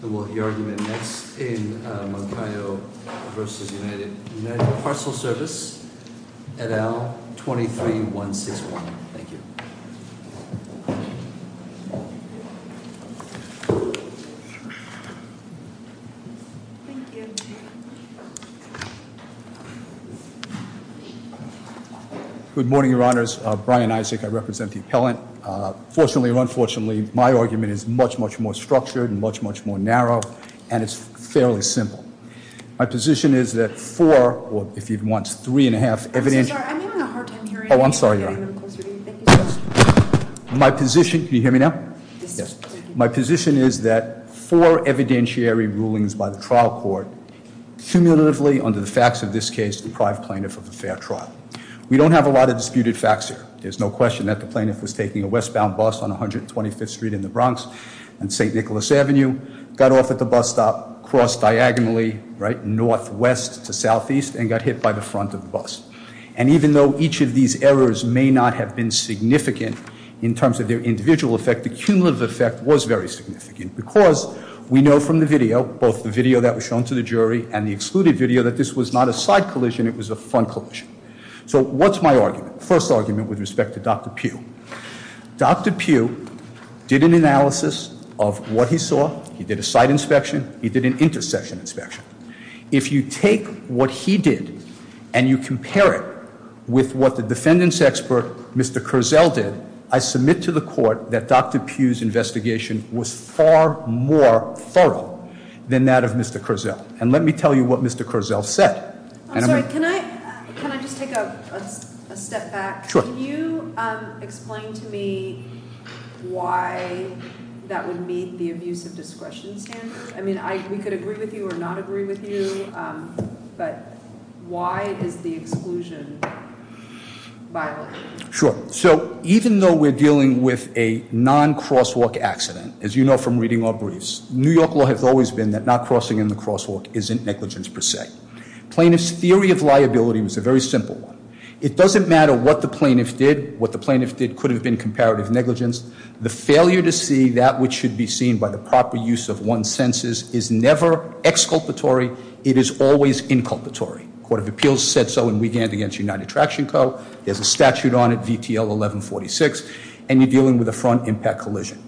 The argument next in Moncayo v. United Parcel Service at L23161. Thank you. Thank you. Good morning, your honors. Brian Isaac, I represent the appellant. Fortunately or unfortunately, my argument is much, much more structured and much, much more narrow. And it's fairly simple. My position is that four, or if you'd want three and a half, evident... I'm so sorry, I'm having a hard time hearing you. Oh, I'm sorry, your honor. Can you get a little closer to me? Thank you so much. My position, can you hear me now? Yes. My position is that four evidentiary rulings by the trial court, cumulatively under the facts of this case, deprive plaintiff of a fair trial. We don't have a lot of disputed facts here. There's no question that the plaintiff was taking a westbound bus on 125th Street in the Bronx and St. Nicholas Avenue, got off at the bus stop, crossed diagonally, right, northwest to southeast, and got hit by the front of the bus. And even though each of these errors may not have been significant in terms of their individual effect, the cumulative effect was very significant because we know from the video, both the video that was shown to the jury and the excluded video, that this was not a side collision, it was a front collision. So what's my argument? My argument with respect to Dr. Pugh, Dr. Pugh did an analysis of what he saw. He did a site inspection. He did an intersection inspection. If you take what he did and you compare it with what the defendants expert, Mr. Curzel did, I submit to the court that Dr. Pugh's investigation was far more thorough than that of Mr. Curzel. And let me tell you what Mr. Curzel said. I'm sorry, can I just take a step back? Can you explain to me why that would meet the abuse of discretion standard? I mean, we could agree with you or not agree with you, but why is the exclusion violent? Sure, so even though we're dealing with a non-crosswalk accident, as you know from reading our briefs, New York law has always been that not crossing in the crosswalk isn't negligence per se. Plaintiff's theory of liability was a very simple one. It doesn't matter what the plaintiff did. What the plaintiff did could have been comparative negligence. The failure to see that which should be seen by the proper use of one's senses is never exculpatory. It is always inculpatory. Court of Appeals said so in Wigand against United Traction Co. There's a statute on it, VTL 1146, and you're dealing with a front impact collision.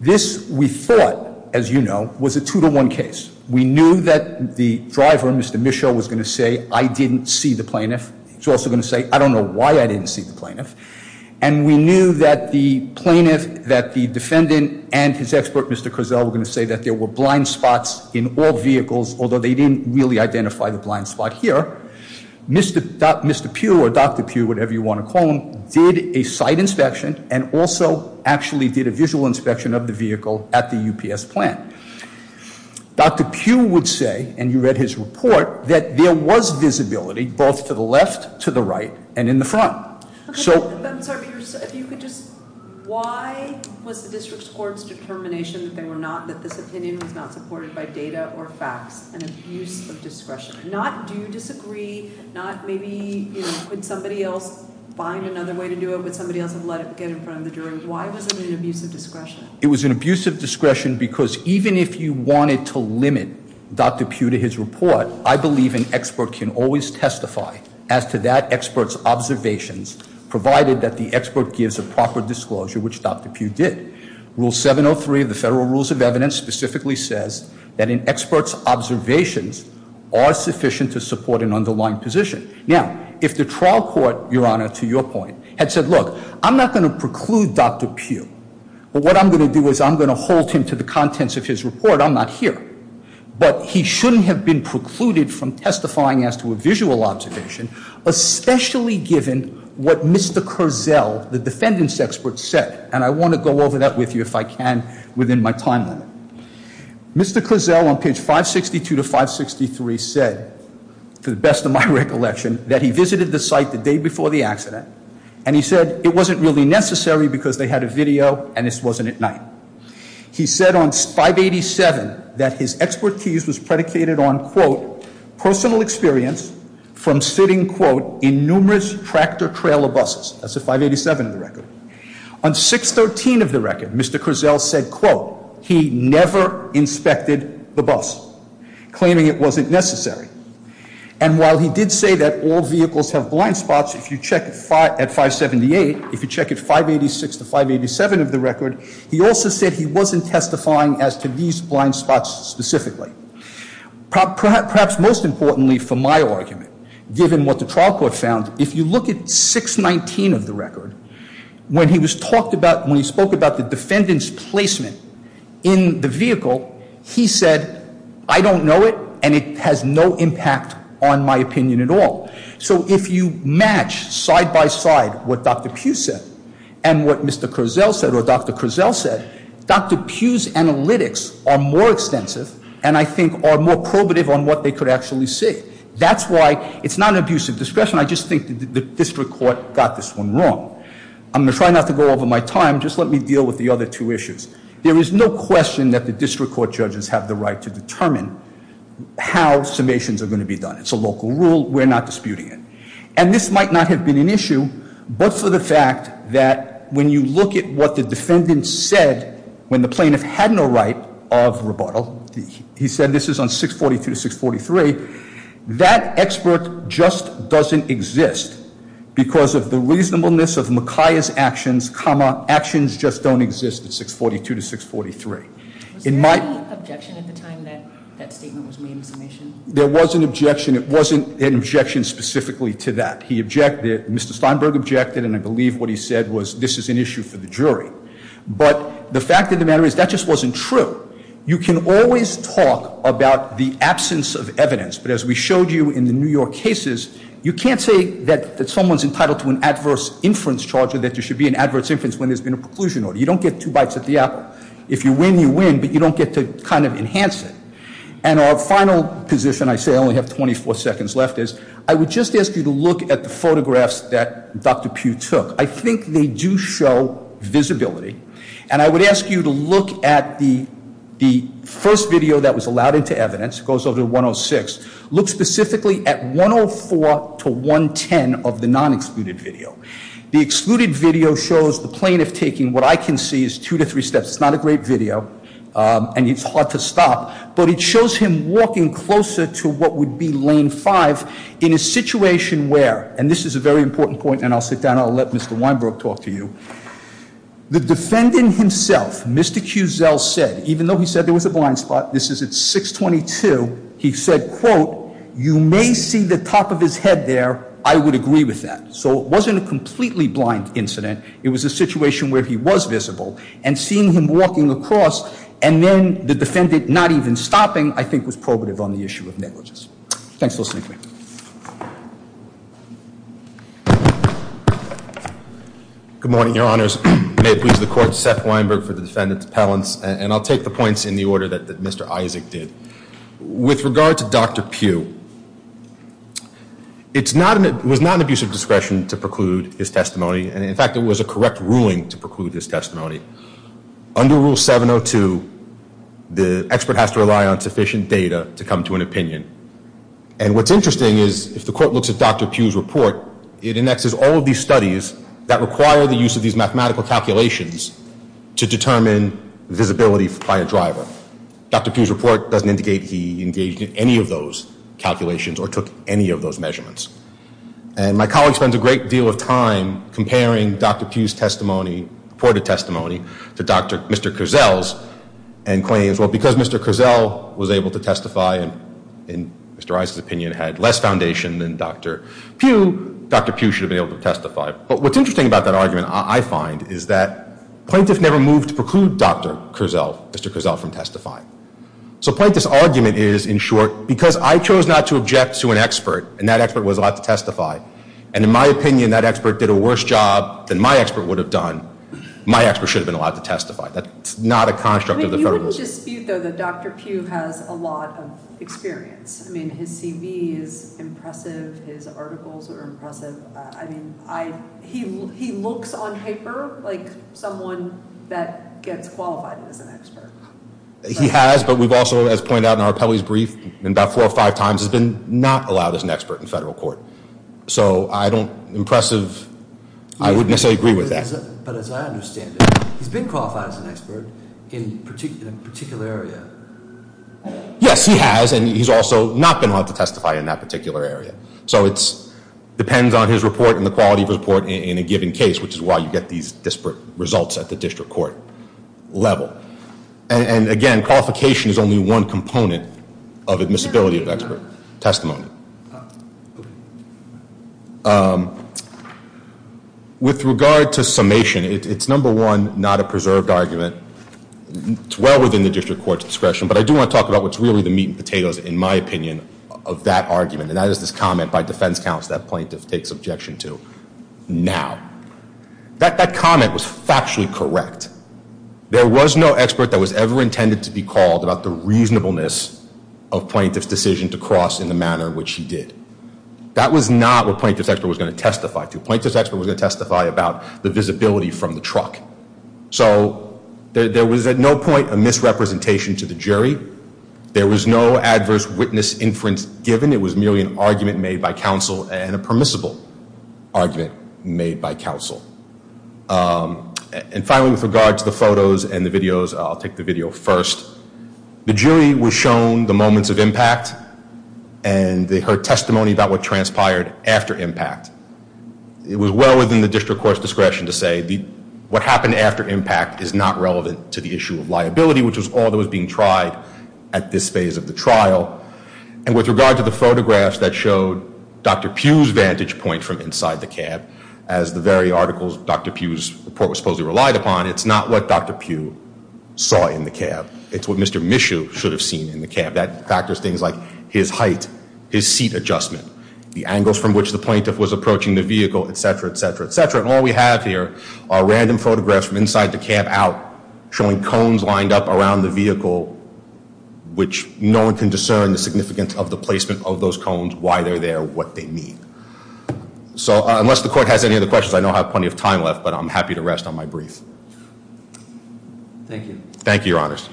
This, we thought, as you know, was a two to one case. We knew that the driver, Mr. Mischel, was going to say, I didn't see the plaintiff. He's also going to say, I don't know why I didn't see the plaintiff. And we knew that the plaintiff, that the defendant, and his expert, Mr. Curzel, were going to say that there were blind spots in all vehicles, although they didn't really identify the blind spot here. Mr. Pugh, or Dr. Pugh, whatever you want to call him, did a site inspection and also actually did a visual inspection of the vehicle at the UPS plant. Dr. Pugh would say, and you read his report, that there was visibility both to the left, to the right, and in the front. So- I'm sorry, Peter, if you could just, why was the district's court's determination that they were not, that this opinion was not supported by data or facts and abuse of discretion? Not do you disagree, not maybe, could somebody else find another way to do it? Would somebody else have let it get in front of the jury? Why was it an abuse of discretion? It was an abuse of discretion because even if you wanted to limit Dr. Pugh to his report, I believe an expert can always testify as to that expert's observations, provided that the expert gives a proper disclosure, which Dr. Pugh did. Rule 703 of the Federal Rules of Evidence specifically says that an expert's observations are sufficient to support an underlying position. Now, if the trial court, Your Honor, to your point, had said, look, I'm not going to preclude Dr. Pugh. But what I'm going to do is I'm going to hold him to the contents of his report, I'm not here. But he shouldn't have been precluded from testifying as to a visual observation, especially given what Mr. Kurzel, the defendant's expert, said. And I want to go over that with you, if I can, within my time limit. Mr. Kurzel on page 562 to 563 said, to the best of my recollection, that he visited the site the day before the accident, and he said it wasn't really necessary because they had a video and this wasn't at night. He said on 587 that his expertise was predicated on, quote, personal experience from sitting, quote, in numerous tractor trailer buses. That's a 587 in the record. On 613 of the record, Mr. Kurzel said, quote, he never inspected the bus, claiming it wasn't necessary. And while he did say that all vehicles have blind spots, if you check at 578, if you check at 586 to 587 of the record, he also said he wasn't testifying as to these blind spots specifically. Perhaps most importantly for my argument, given what the trial court found, if you look at 619 of the record, when he was talked about, when he spoke about the defendant's placement in the vehicle, he said, I don't know it, and it has no impact on my opinion at all. So if you match side by side what Dr. Pugh said, and what Mr. Kurzel said, or Dr. Kurzel said, Dr. Pugh's analytics are more extensive, and I think are more probative on what they could actually see. That's why it's not an abuse of discretion, I just think the district court got this one wrong. I'm going to try not to go over my time, just let me deal with the other two issues. There is no question that the district court judges have the right to determine how summations are going to be done. It's a local rule, we're not disputing it. And this might not have been an issue, but for the fact that when you look at what the defendant said, when the plaintiff had no right of rebuttal, he said this is on 642 to 643. That expert just doesn't exist because of the reasonableness of Makiah's actions, comma, actions just don't exist at 642 to 643. It might- Was there any objection at the time that that statement was made in summation? There was an objection, it wasn't an objection specifically to that. He objected, Mr. Steinberg objected, and I believe what he said was this is an issue for the jury. But the fact of the matter is that just wasn't true. You can always talk about the absence of evidence, but as we showed you in the New York cases, you can't say that someone's entitled to an adverse inference charge or that there should be an adverse inference when there's been a preclusion order. You don't get two bites at the apple. If you win, you win, but you don't get to kind of enhance it. And our final position, I say I only have 24 seconds left, is I would just ask you to look at the photographs that Dr. Pugh took. I think they do show visibility. And I would ask you to look at the first video that was allowed into evidence, it goes over to 106. Look specifically at 104 to 110 of the non-excluded video. The excluded video shows the plaintiff taking what I can see is two to three steps. It's not a great video, and it's hard to stop. But it shows him walking closer to what would be lane five in a situation where, and this is a very important point, and I'll sit down, I'll let Mr. Weinberg talk to you. The defendant himself, Mr. Cusel, said, even though he said there was a blind spot, this is at 622. He said, quote, you may see the top of his head there, I would agree with that. So it wasn't a completely blind incident, it was a situation where he was visible. And seeing him walking across, and then the defendant not even stopping, I think was probative on the issue of negligence. Thanks for listening to me. Good morning, your honors. May it please the court, Seth Weinberg for the defendant's appellants, and I'll take the points in the order that Mr. Isaac did. With regard to Dr. Pugh, it was not an abuse of discretion to preclude his testimony. And in fact, it was a correct ruling to preclude his testimony. Under Rule 702, the expert has to rely on sufficient data to come to an opinion. And what's interesting is, if the court looks at Dr. Pugh's report, it annexes all of these studies that require the use of these mathematical calculations to determine visibility by a driver. Dr. Pugh's report doesn't indicate he engaged in any of those calculations or took any of those measurements. And my colleague spends a great deal of time comparing Dr. Pugh's testimony, reported testimony, to Mr. Cusel's and claims, well, because Mr. Cusel was able to testify, and Mr. Isaac's opinion had less foundation than Dr. Pugh, Dr. Pugh should have been able to testify. But what's interesting about that argument, I find, is that plaintiff never moved to preclude Dr. Cusel, Mr. Cusel, from testifying. So plaintiff's argument is, in short, because I chose not to object to an expert, and that expert was allowed to testify. And in my opinion, that expert did a worse job than my expert would have done. My expert should have been allowed to testify. That's not a construct of the federal- I would dispute, though, that Dr. Pugh has a lot of experience. I mean, his CV is impressive, his articles are impressive. I mean, he looks on paper like someone that gets qualified as an expert. He has, but we've also, as pointed out in our appellee's brief, in about four or five times, has been not allowed as an expert in federal court. So I don't, impressive, I wouldn't necessarily agree with that. But as I understand it, he's been qualified as an expert in a particular area. Yes, he has, and he's also not been allowed to testify in that particular area. So it depends on his report and the quality of his report in a given case, which is why you get these disparate results at the district court level. And again, qualification is only one component of admissibility of expert testimony. With regard to summation, it's number one, not a preserved argument. It's well within the district court's discretion, but I do want to talk about what's really the meat and potatoes, in my opinion, of that argument. And that is this comment by defense counsel that plaintiff takes objection to now. That comment was factually correct. There was no expert that was ever intended to be called about the reasonableness of plaintiff's decision to cross in the manner in which he did. That was not what plaintiff's expert was going to testify to. Plaintiff's expert was going to testify about the visibility from the truck. So there was at no point a misrepresentation to the jury. There was no adverse witness inference given. It was merely an argument made by counsel and a permissible argument made by counsel. And finally, with regard to the photos and the videos, I'll take the video first. The jury was shown the moments of impact, and they heard testimony about what transpired after impact. It was well within the district court's discretion to say what happened after impact is not relevant to the issue of liability, which was all that was being tried at this phase of the trial. And with regard to the photographs that showed Dr. Pugh's vantage point from inside the cab, as the very articles Dr. Pugh's report was supposedly relied upon, it's not what Dr. Pugh saw in the cab. It's what Mr. Mishu should have seen in the cab. That factors things like his height, his seat adjustment, the angles from which the plaintiff was approaching the vehicle, etc., etc., etc. And all we have here are random photographs from inside the cab out, showing cones lined up around the vehicle, which no one can discern the significance of the placement of those cones, why they're there, what they mean. So unless the court has any other questions, I know I have plenty of time left, but I'm happy to rest on my brief. Thank you. Thank you, your honors.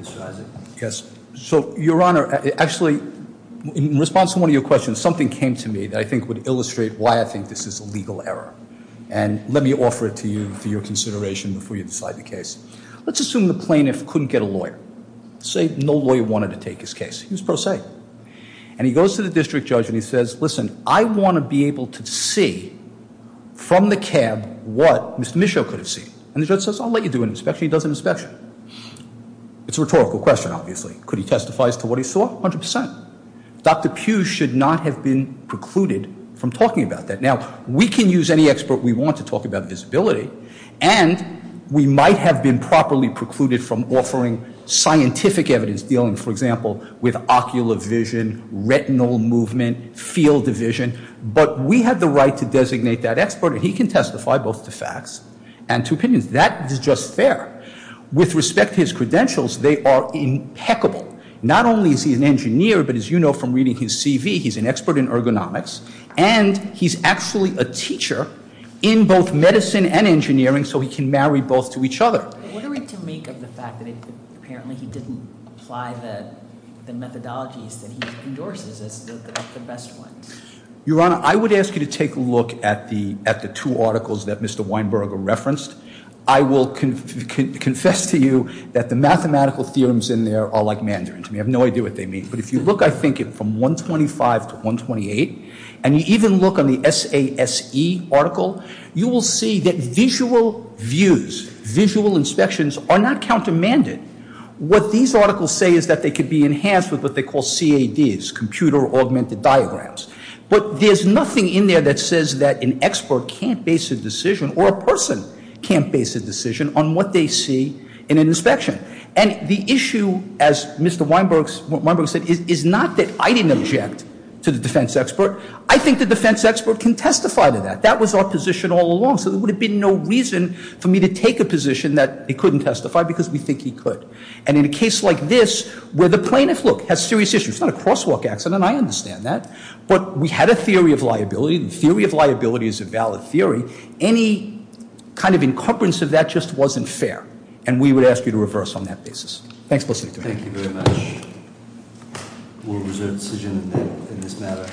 Mr. Isaac. Yes, so your honor, actually in response to one of your questions, something came to me that I think would illustrate why I think this is a legal error. And let me offer it to you for your consideration before you decide the case. Let's assume the plaintiff couldn't get a lawyer. Say no lawyer wanted to take his case, he was pro se. And he goes to the district judge and he says, listen, I want to be able to see from the cab what Mr. Misho could have seen. And the judge says, I'll let you do an inspection, he does an inspection. It's a rhetorical question, obviously. Could he testify as to what he saw? 100%. Dr. Pugh should not have been precluded from talking about that. Now, we can use any expert we want to talk about visibility, and we might have been properly precluded from offering scientific evidence dealing, for example, with ocular vision, retinal movement, field division. But we have the right to designate that expert, and he can testify both to facts and to opinions. That is just fair. With respect to his credentials, they are impeccable. Not only is he an engineer, but as you know from reading his CV, he's an expert in ergonomics. And he's actually a teacher in both medicine and engineering, so he can marry both to each other. What are we to make of the fact that apparently he didn't apply the methodologies that he endorses as the best ones? Your Honor, I would ask you to take a look at the two articles that Mr. Weinberg referenced. I will confess to you that the mathematical theorems in there are like Mandarin to me. I have no idea what they mean. But if you look, I think, at from 125 to 128, and you even look on the SASE article, you will see that visual views, visual inspections are not countermanded. What these articles say is that they could be enhanced with what they call CADs, Computer Augmented Diagrams. But there's nothing in there that says that an expert can't base a decision or a person can't base a decision on what they see in an inspection. And the issue, as Mr. Weinberg said, is not that I didn't object to the defense expert. I think the defense expert can testify to that. That was our position all along, so there would have been no reason for me to take a position that he couldn't testify because we think he could. And in a case like this, where the plaintiff, look, has serious issues, it's not a crosswalk accident, I understand that. But we had a theory of liability, and the theory of liability is a valid theory. Any kind of incumbrance of that just wasn't fair, and we would ask you to reverse on that basis. Thanks for listening to me. Thank you very much. We'll reserve decision in this matter.